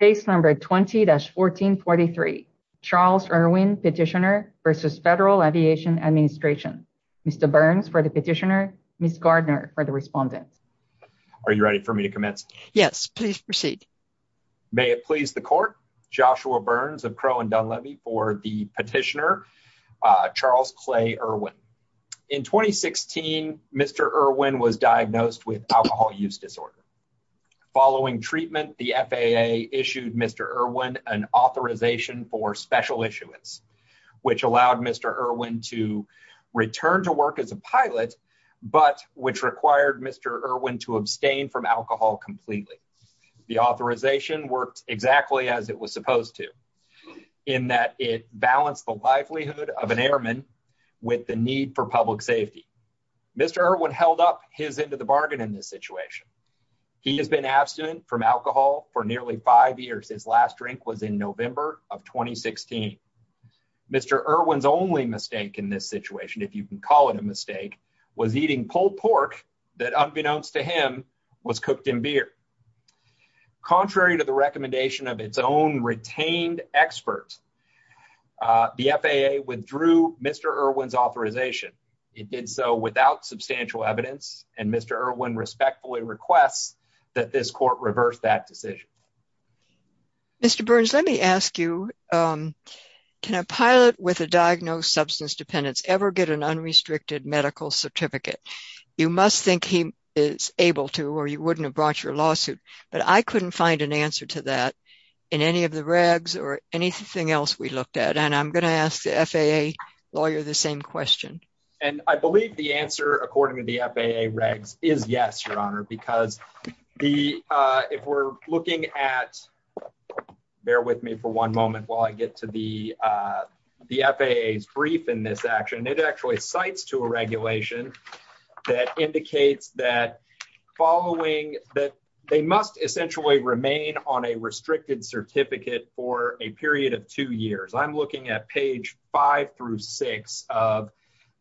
Case number 20-1443. Charles Erwin petitioner versus Federal Aviation Administration. Mr. Burns for the petitioner. Ms. Gardner for the respondent. Are you ready for me to commence? Yes, please proceed. May it please the court. Joshua Burns of Crow and Dunleavy for the petitioner. Charles Clay Erwin. In 2016, Mr. Erwin was diagnosed with alcohol use disorder. Following treatment, the FAA issued Mr. Erwin an authorization for special issuance, which allowed Mr. Erwin to return to work as a pilot, but which required Mr. Erwin to abstain from alcohol completely. The authorization worked exactly as it was supposed to, in that it balanced the livelihood of an airman with the need for public safety. Mr. Erwin held his end of the bargain in this situation. He has been abstinent from alcohol for nearly five years. His last drink was in November of 2016. Mr. Erwin's only mistake in this situation, if you can call it a mistake, was eating pulled pork that unbeknownst to him was cooked in beer. Contrary to the recommendation of its own retained experts, the FAA withdrew Mr. Erwin's and Mr. Erwin respectfully requests that this court reverse that decision. Mr. Burns, let me ask you, can a pilot with a diagnosed substance dependence ever get an unrestricted medical certificate? You must think he is able to, or you wouldn't have brought your lawsuit, but I couldn't find an answer to that in any of the regs or anything else we looked at, and I'm going to ask the FAA lawyer the same question. And I believe the answer according to the FAA regs is yes, your honor, because if we're looking at bear with me for one moment while I get to the FAA's brief in this action, it actually cites to a regulation that indicates that following that they must essentially remain on a restricted certificate for a period of two years. I'm looking at page five through six of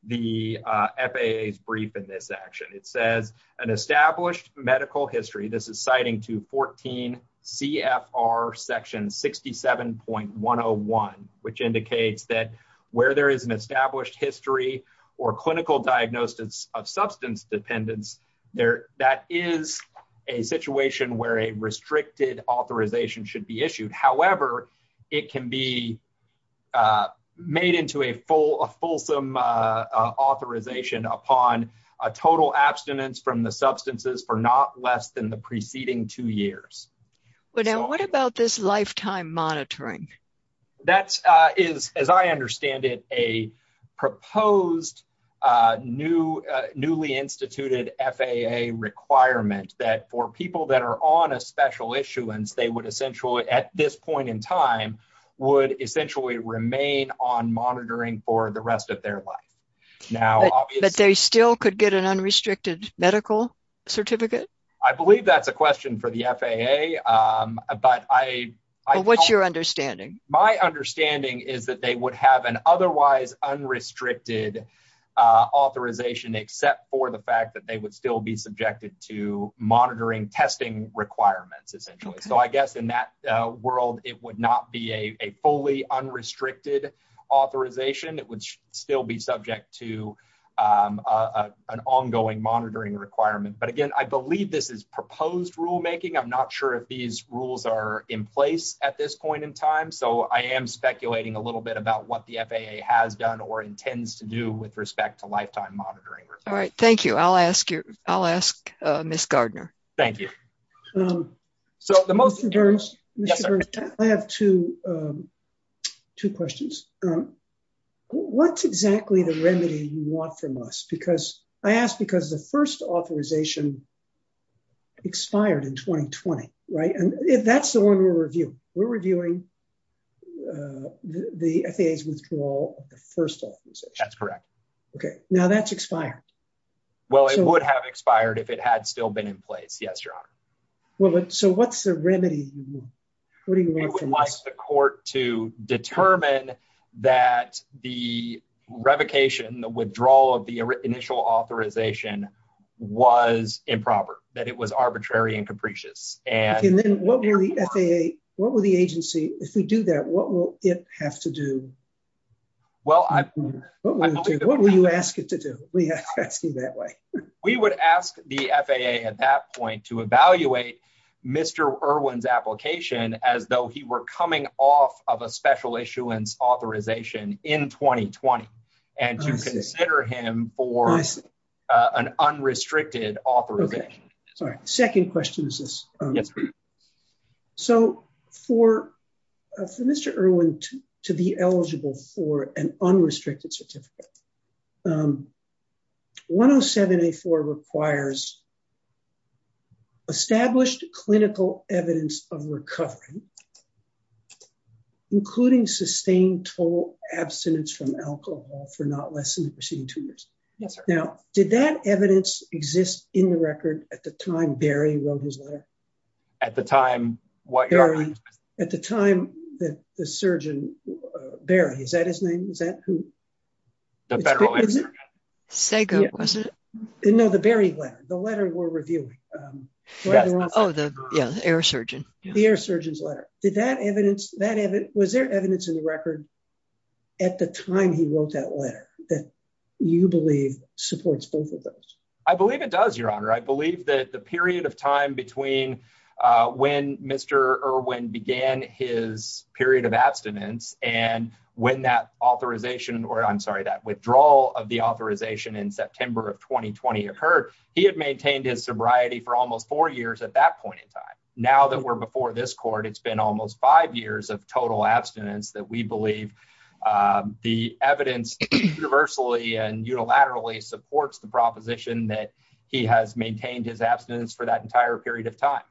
the FAA's brief in this action. It says an established medical history, this is citing to 14 CFR section 67.101, which indicates that where there is an established history or clinical diagnosis of substance dependence, that is a situation where a restricted authorization should be issued. However, it can be made into a fulsome authorization upon a total abstinence from the substances for not less than the preceding two years. What about this lifetime monitoring? That is, as I understand it, a proposed newly instituted FAA requirement that for people that at this point in time would essentially remain on monitoring for the rest of their life. But they still could get an unrestricted medical certificate? I believe that's a question for the FAA. But what's your understanding? My understanding is that they would have an otherwise unrestricted authorization except for the fact that they would still be subjected to monitoring testing requirements essentially. In that world, it would not be a fully unrestricted authorization. It would still be subject to an ongoing monitoring requirement. But again, I believe this is proposed rulemaking. I'm not sure if these rules are in place at this point in time. I am speculating a little bit about what the FAA has done or intends to do with respect to lifetime monitoring. All right. Thank you. I'll ask Ms. Gardner. Thank you. Mr. Burns, I have two questions. What's exactly the remedy you want from us? I ask because the first authorization expired in 2020, right? That's the one we're reviewing. We're reviewing the FAA's withdrawal of the first authorization. That's correct. Okay. Now that's expired. Well, it would have expired if it had still been in place. Yes, Your Honor. So what's the remedy you want? What do you want from us? We would like the court to determine that the revocation, the withdrawal of the initial authorization was improper, that it was arbitrary and capricious. Okay. And then what will the FAA, what will the agency, if we do that, what will it have to do? Well, I believe- That way. We would ask the FAA at that point to evaluate Mr. Irwin's application as though he were coming off of a special issuance authorization in 2020 and to consider him for an unrestricted authorization. Sorry. Second question is this. So for Mr. Irwin to be eligible for an unrestricted certificate, 107A4 requires established clinical evidence of recovery, including sustained total abstinence from alcohol for not less than the preceding two years. Yes, sir. Now, did that evidence exist in the record at the time Barry wrote his letter? At the time what? At the time that the surgeon, Barry, is that his name? Is that who? The federal insurgent. Sago, was it? No, the Barry letter, the letter we're reviewing. Oh, the air surgeon. The air surgeon's letter. Did that evidence, was there evidence in the record at the time he wrote that letter that you believe supports both of those? I believe it does, Your Honor. I believe that the period of time between when Mr. Irwin began his period of abstinence and when that authorization, or I'm sorry, that withdrawal of the authorization in September of 2020 occurred, he had maintained his sobriety for almost four years at that point in time. Now that we're before this court, it's been almost five years of total abstinence that we believe the evidence universally and unilaterally supports the opposition that he has maintained his abstinence for that entire period of time.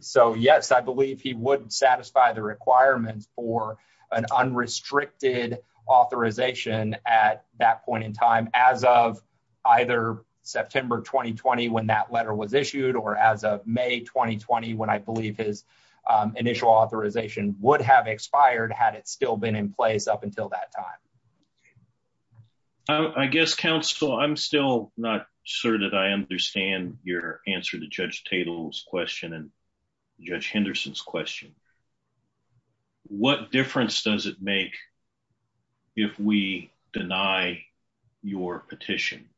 So yes, I believe he would satisfy the requirements for an unrestricted authorization at that point in time as of either September 2020 when that letter was issued or as of May 2020 when I believe his initial authorization would have expired had it still been in place up until that time. I guess, counsel, I'm still not sure that I understand your answer to Judge Tatel's question and Judge Henderson's question. What difference does it make if we deny your petition?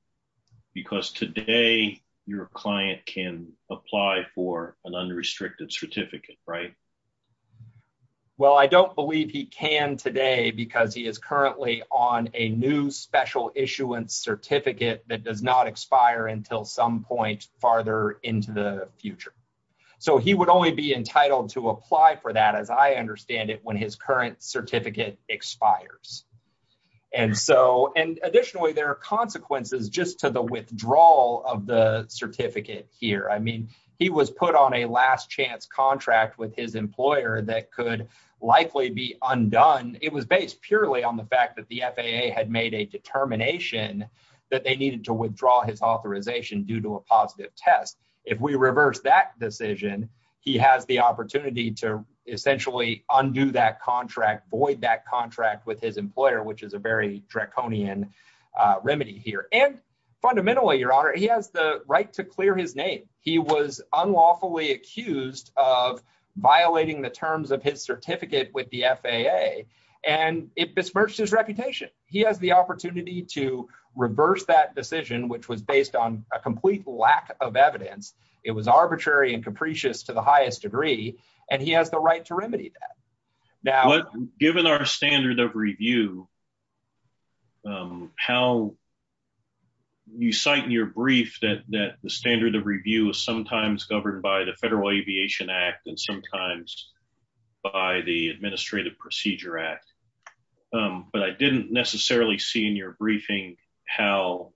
Because today your client can apply for an unrestricted certificate, right? Well, I don't believe he can today because he is currently on a new special issuance certificate that does not expire until some point farther into the future. So he would only be entitled to apply for that as I understand it when his current certificate expires. And so, and additionally, there are consequences just to the withdrawal of the certificate here. I mean, he was put on a last chance contract with his employer that could likely be undone. It was based purely on the fact that the FAA had made a determination that they needed to withdraw his authorization due to a positive test. If we reverse that decision, he has the opportunity to essentially undo that contract, void that contract with his employer, which is a very draconian remedy here. And fundamentally, your honor, he has the right to clear his name. He was unlawfully accused of violating the terms of his certificate with the FAA and it besmirched his reputation. He has the opportunity to reverse that decision, which was based on a complete lack of evidence. It was arbitrary and capricious to the highest degree, and he has the right to remedy that. Now, given our standard of review, how you cite in your brief that the standard of review is sometimes governed by the Federal Aviation Act and sometimes by the Administrative Procedure Act, but I didn't necessarily see in your briefing how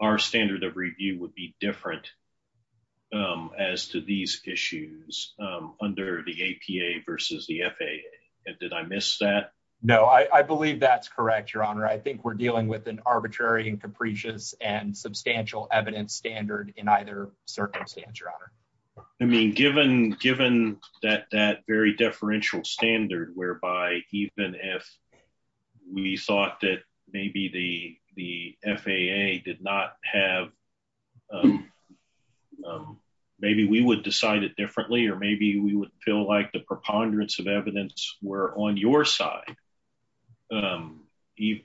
our standard of review would be different as to these issues under the APA versus the FAA. Did I miss that? No, I believe that's correct, your honor. I think we're dealing with an arbitrary and capricious and substantial evidence standard in either circumstance, your honor. I mean, given that very differential standard whereby even if we thought that maybe the FAA did not have, maybe we would decide it differently, or maybe we would feel like preponderance of evidence were on your side.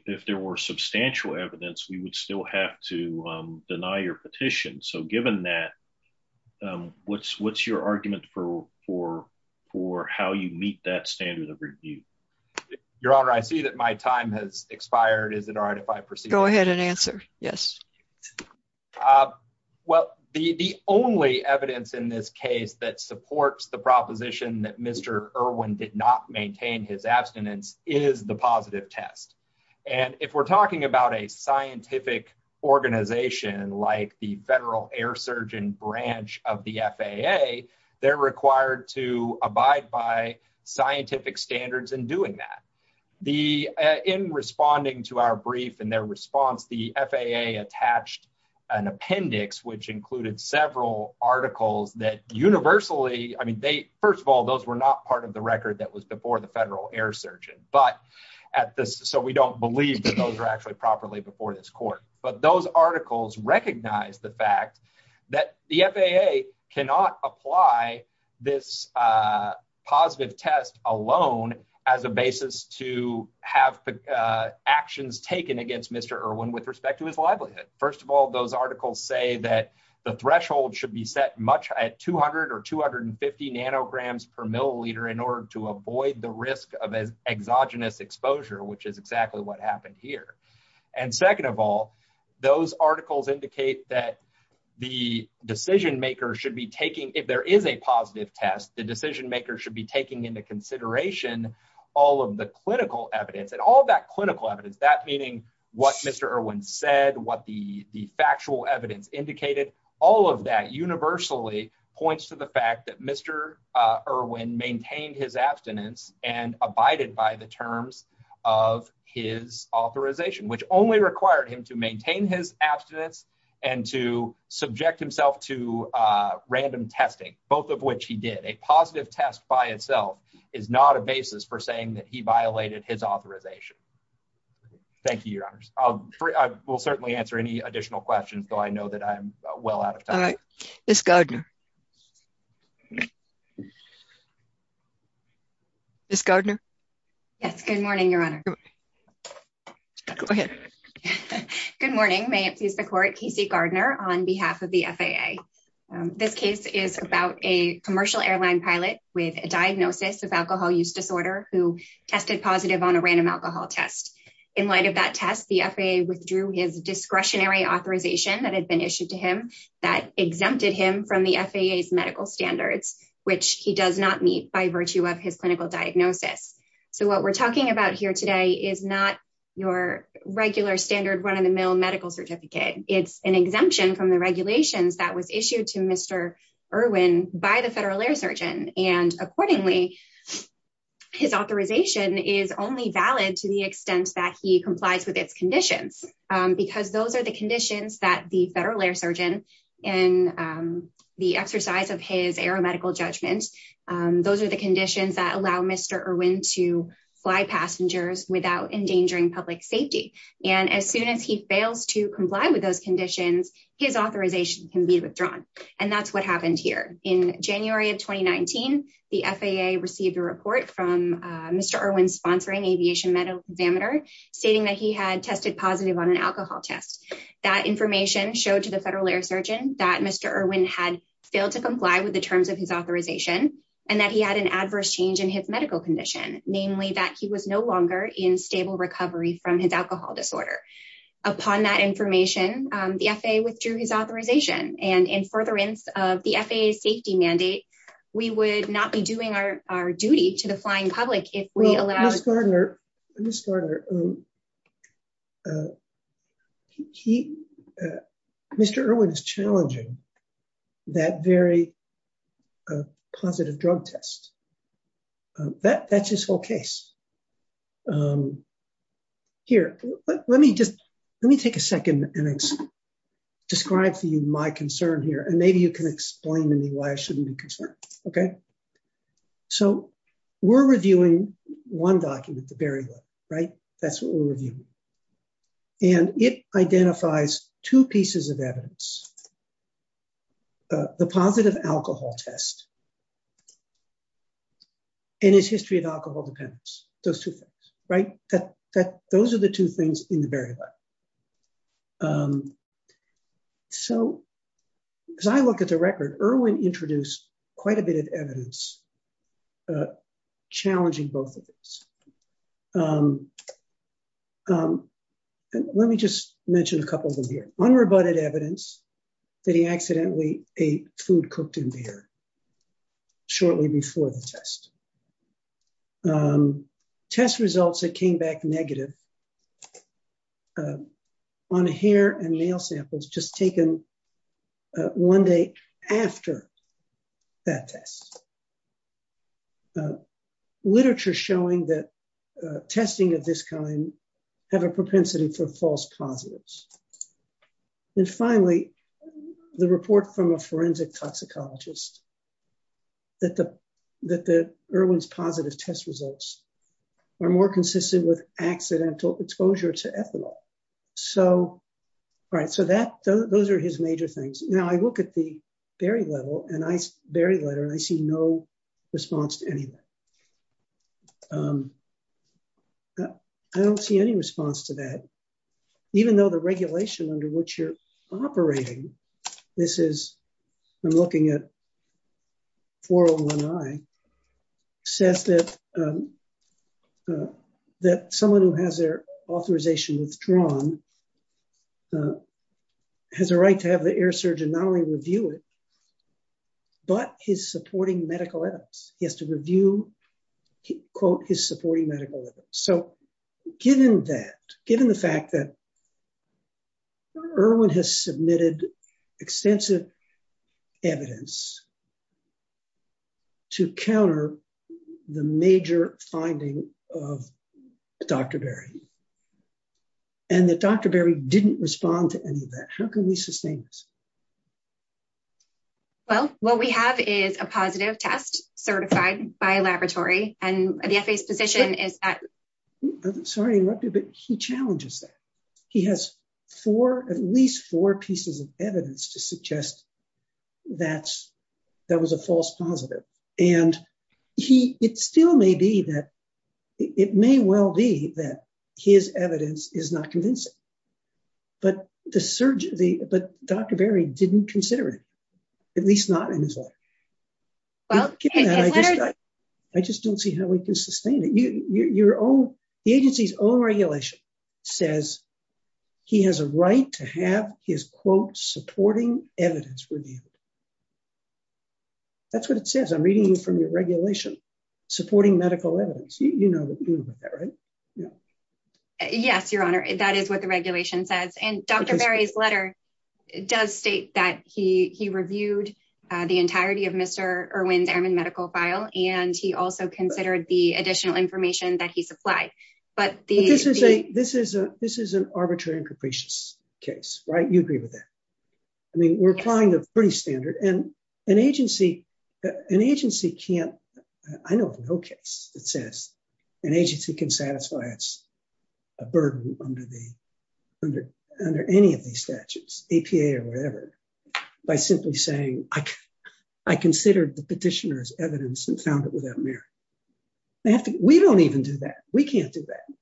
If there were substantial evidence, we would still have to deny your petition. So given that, what's your argument for how you meet that standard of review? Your honor, I see that my time has expired. Is it all right if I proceed? Go ahead and answer. Yes. Well, the only evidence in this case that supports the proposition that Mr. Irwin did not maintain his abstinence is the positive test. And if we're talking about a scientific organization like the Federal Air Surgeon Branch of the FAA, they're required to abide by scientific standards in doing that. In responding to our brief and their response, the FAA attached an appendix, which included several articles that universally, I mean, first of all, those were not part of the record that was before the Federal Air Surgeon, so we don't believe that those are actually properly before this court. But those articles recognize the fact that the FAA cannot apply this positive test alone as a basis to have actions taken against Mr. Irwin with respect to his livelihood. First of all, those articles say that the threshold should be set much at 200 or 250 nanograms per milliliter in order to avoid the risk of exogenous exposure, which is exactly what happened here. And second of all, those articles indicate that the decision makers should be taking, if there is a positive test, the decision makers should be taking into consideration all of the clinical evidence. And all of that clinical evidence, that meaning what Mr. Irwin said, what the factual evidence indicated, all of that universally points to the fact that Mr. Irwin maintained his abstinence and abided by the terms of his authorization, which only required him to maintain his abstinence and to subject himself to random testing, both of which he did. A positive test by itself is not a basis for saying that he violated his authorization. Thank you, Your Honors. I will certainly answer any additional questions, though I know that I'm well out of time. All right. Ms. Gardner. Ms. Gardner. Yes. Good morning, Your Honor. Go ahead. Good morning. May it please the Court. Casey Gardner on behalf of the FAA. This case is about a commercial airline pilot with a diagnosis of alcohol use disorder who tested positive on a random alcohol test. In light of that test, the FAA withdrew his medical standards, which he does not meet by virtue of his clinical diagnosis. So what we're talking about here today is not your regular standard run-of-the-mill medical certificate. It's an exemption from the regulations that was issued to Mr. Irwin by the Federal Air Surgeon. And accordingly, his authorization is only valid to the extent that he complies with its conditions, because those are the conditions that the Federal Air of his aeromedical judgments, those are the conditions that allow Mr. Irwin to fly passengers without endangering public safety. And as soon as he fails to comply with those conditions, his authorization can be withdrawn. And that's what happened here. In January of 2019, the FAA received a report from Mr. Irwin's sponsoring aviation medical examiner, stating that he had tested positive on an alcohol test. That information showed to the Federal Air that Mr. Irwin had failed to comply with the terms of his authorization, and that he had an adverse change in his medical condition, namely that he was no longer in stable recovery from his alcohol disorder. Upon that information, the FAA withdrew his authorization. And in furtherance of the FAA's safety mandate, we would not be doing our duty to the flying public if we allowed... Mr. Irwin is challenging that very positive drug test. That's his whole case. Here, let me take a second and describe to you my concern here, and maybe you can explain to me why it shouldn't be a concern. We're reviewing one document, the Barry Law. That's what we're reviewing. And it identifies two pieces of evidence, the positive alcohol test and his history of alcohol dependence. Those two things. Those are the two things in the Barry Law. So, as I look at the record, Irwin introduced quite a bit of evidence challenging both of these. Let me just mention a couple of them here. Unrebutted evidence that he accidentally ate food cooked in beer shortly before the test. Test results that came back negative on hair and nail samples just taken one day after that test. Literature showing that testing of this kind have a propensity for false positives. And finally, the report from a forensic toxicologist that the Irwin's positive test results are more consistent with accidental exposure to ethanol. All right, so those are his major things. Now, I look at the Barry letter and I see no response to any of that. I don't see any response to that. Even though the regulation under which you're operating, this is, I'm looking at 401I, says that someone who has their authorization withdrawn has a right to have the air surgeon not only review it, but his supporting medical evidence. He has to review, quote, his supporting medical evidence. So, given that, given the fact that Irwin has submitted extensive evidence to counter the major finding of Dr. Barry, and that Dr. Barry didn't respond to any of that, how can we sustain this? Well, what we have is a positive test certified by a laboratory, and the FAA's position is that... Sorry to interrupt you, but he challenges that. He has four, at least four pieces of evidence to suggest that that was a false positive. And it still may be that, it may well be that his evidence is not convincing, but Dr. Barry didn't consider it, at least not in his letter. I just don't see how we can sustain it. The agency's own regulation says he has a right to have his, quote, supporting evidence reviewed. That's what it says. I'm reading from your regulation, supporting medical evidence. You know what to do with that, right? Yes, Your Honor. That is what the regulation says. And Dr. Barry's letter does state that he reviewed the entirety of Mr. Irwin's airman medical file, and he also considered the additional information that he supplied. But the... This is an arbitrary and capricious case, right? You agree with that. I mean, we're applying the pretty standard, and an agency can't... I know of no case that says an agency can satisfy its burden under any of these statutes, APA or whatever, by simply saying, I considered the petitioner's evidence and found it without merit. We don't even do that. We can't do that.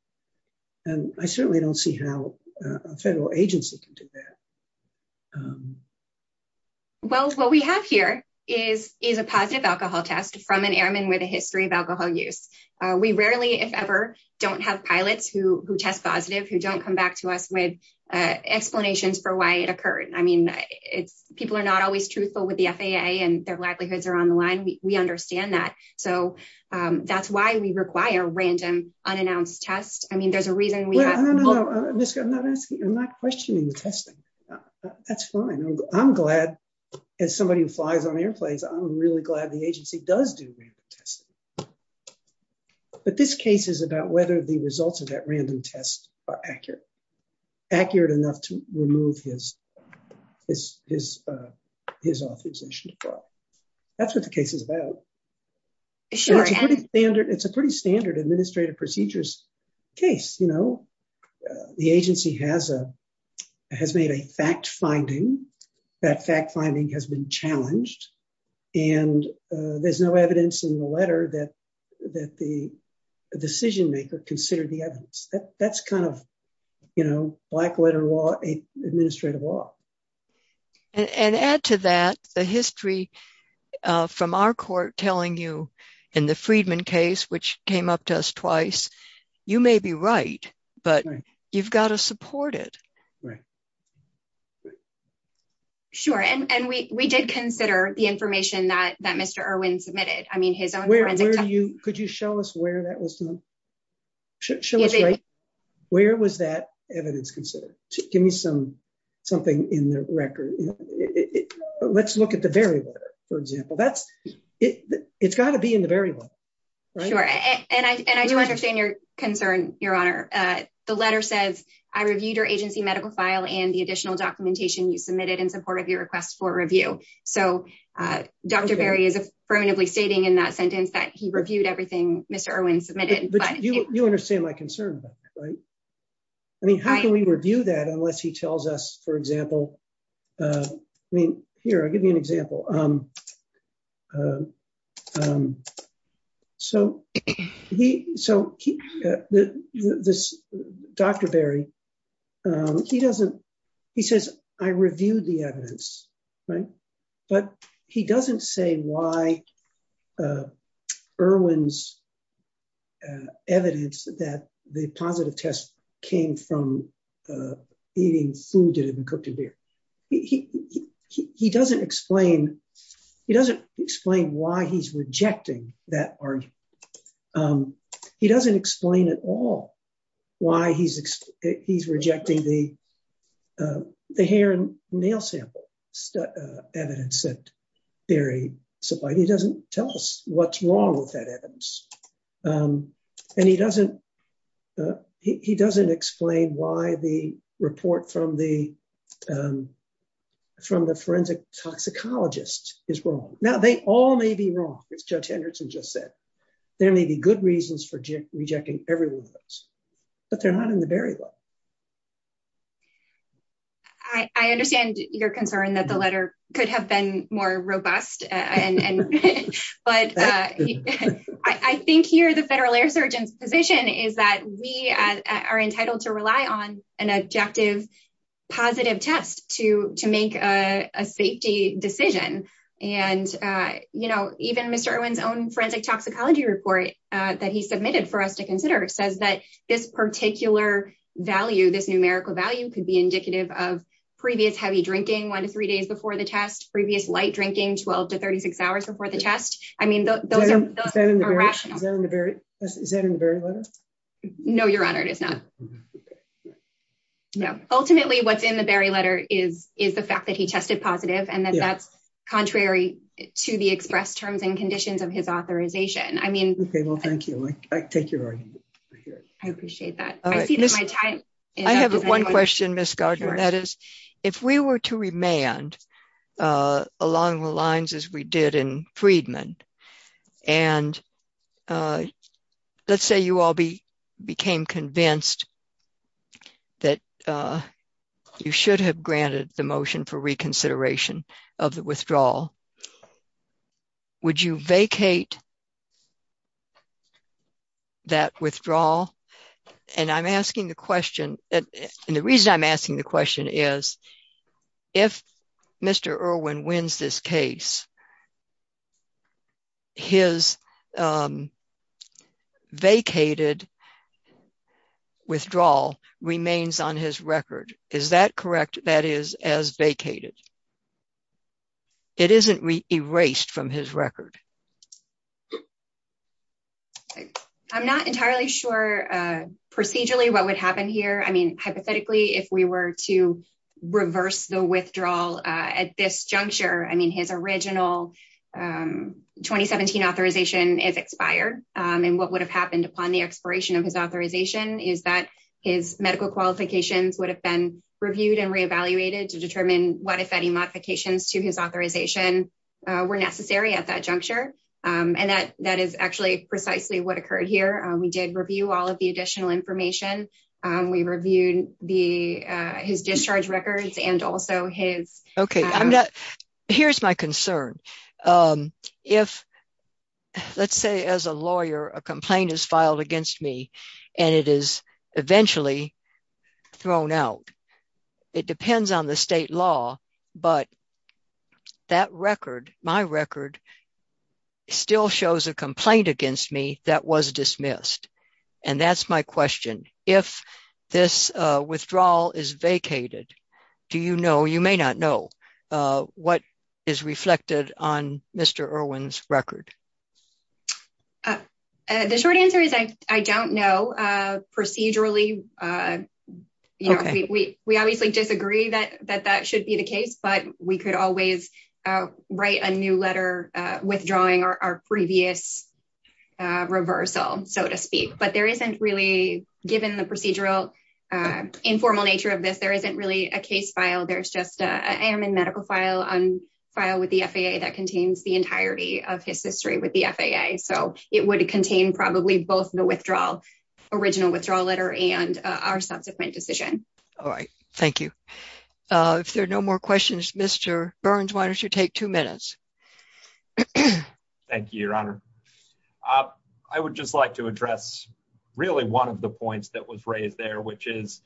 And I certainly don't see how a federal agency can do that. Well, what we have here is a positive alcohol test from an airman with a history of alcohol use. We rarely, if ever, don't have pilots who test positive, who don't come back to us with explanations for why it occurred. I mean, people are not always truthful with the FAA, and their livelihoods are on the line. We understand that. So that's why we require random, unannounced tests. I mean, there's a reason we have... Well, no, no, no. I'm not asking... I'm not questioning the testing. That's fine. I'm glad, as somebody who flies on airplanes, I'm really glad the agency does do random testing. But this case is about whether the results of that random test are accurate. Accurate enough to remove his authorization to file. That's what the case is about. Sure, and... It's a pretty standard administrative procedures case. The agency has made a fact-finding. That fact-finding has been challenged. And there's no evidence in the letter that the decision-maker considered the evidence. That's kind of black-letter law, administrative law. And add to that the history from our court telling you, in the Friedman case, which came up to us twice, you may be right, but you've got to support it. Sure. And we did consider the information that Mr. Irwin submitted. I mean, his own forensic... Could you show us where that was done? Show us right... Where was that evidence considered? Give me something in the record. Let's look at the Berry letter, for example. It's got to be in the Berry letter. Sure. And I do understand your concern, Your Honor. The letter says, I reviewed your agency medical file and the additional documentation you submitted in support of your request for review. So Dr. Berry is affirmatively stating in that sentence that he reviewed everything Mr. Irwin submitted. But you understand my concern about that, right? I mean, how can we review that unless he tells us, for example... I mean, here, I'll give you an example. So Dr. Berry, he says, I reviewed the evidence, right? But he doesn't say why Irwin's evidence that the positive test came from eating food that had been cooked in beer. He doesn't explain why he's rejecting that argument. He doesn't explain at all why he's rejecting the hair and nail sample evidence that Berry supplied. He doesn't tell what's wrong with that evidence. And he doesn't explain why the report from the forensic toxicologist is wrong. Now, they all may be wrong, as Judge Henderson just said. There may be good reasons for rejecting every one of those, but they're not in the Berry letter. I understand your concern that the letter could have been more robust. But I think here, the Federal Air Surgeon's position is that we are entitled to rely on an objective positive test to make a safety decision. And even Mr. Irwin's own forensic toxicology report that he submitted for us to consider says that this particular value, this numerical value, could be indicative of previous heavy drinking one to three days before the test, previous light drinking 12 to 36 hours before the test. I mean, those are irrational. Is that in the Berry letter? No, Your Honor, it is not. Ultimately, what's in the Berry letter is the fact that he tested positive and that that's contrary to the express terms and conditions of his authorization. Okay, well, thank you. I take your argument. I appreciate that. I have one question, Ms. Gardner. That is, if we were to remand along the lines as we did in Freedman, and let's say you all became convinced that you should have granted the motion for reconsideration of the withdrawal, would you vacate that withdrawal? And I'm asking the question, and the reason I'm asking the question is, if Mr. Irwin wins this case, his vacated withdrawal remains on his record. Is that entirely true? I'm not entirely sure procedurally what would happen here. I mean, hypothetically, if we were to reverse the withdrawal at this juncture, I mean, his original 2017 authorization is expired. And what would have happened upon the expiration of his authorization is that his medical qualifications would have been reviewed and re-evaluated to determine what, if any, modifications to his authorization were necessary at that juncture. And that is actually precisely what occurred here. We did review all of the additional information. We reviewed his discharge records and also his... Okay, here's my concern. If, let's say as a lawyer, a complaint is filed against me and it is eventually thrown out, it depends on the state law, but that record, my record, still shows a complaint against me that was dismissed. And that's my question. If this withdrawal is vacated, do you know, you may not know, what is reflected on Mr. Irwin's record? The short answer is I don't know procedurally. We obviously disagree that that should be the case, but we could always write a new letter withdrawing our previous reversal, so to speak. But there isn't really, given the procedural, informal nature of this, there isn't really a case file. There's just a medical file on file with the FAA that contains the entirety of his history with the FAA. So it would contain probably both the original withdrawal letter and our subsequent decision. All right. Thank you. If there are no more questions, Mr. Burns, why don't you take two minutes? Thank you, Your Honor. I would just like to address really one of the points that was raised there, which is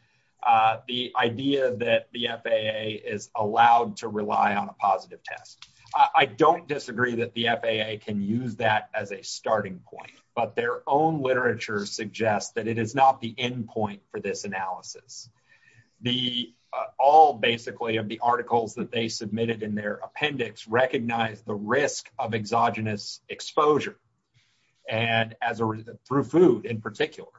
the idea that the FAA is allowed to rely on a positive test. I don't disagree that the FAA can use that as a starting point, but their own literature suggests that it is not the end point for this analysis. All basically of the articles that they submitted in their appendix recognize the risk of exogenous exposure, through food in particular.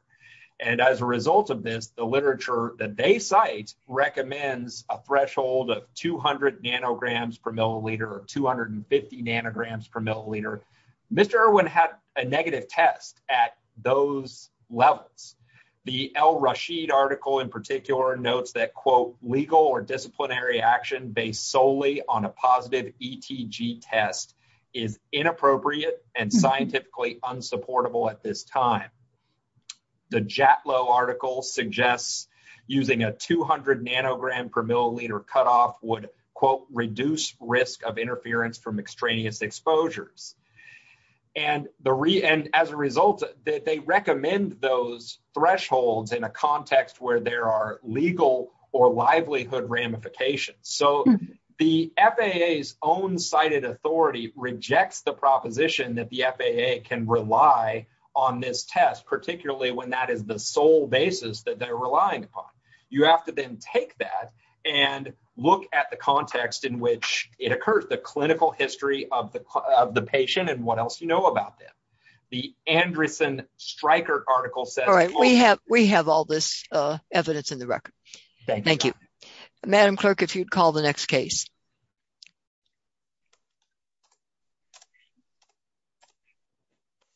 And as a result of this, the literature that they cite recommends a threshold of 200 nanograms per milliliter or 250 nanograms per milliliter. Mr. Irwin had a negative test at those levels. The El Rashid article in particular notes that, quote, legal or disciplinary action based solely on a positive ETG test is inappropriate and scientifically unsupportable at this time. The Jatlow article suggests using a 200 nanogram per milliliter cutoff would, quote, reduce risk of interference from extraneous exposures. And as a result, they recommend those thresholds in a context where there are legal or livelihood ramifications. So the FAA's own cited authority rejects the proposition that the FAA can rely on this test, particularly when that is the sole basis that they're relying upon. You have to then take that and look at the context in which it occurs, the clinical history of the patient and what else you know about them. The Anderson Stryker article says- All right, we have all this evidence in the record. Thank you. Madam Clerk, if you'd call the next case.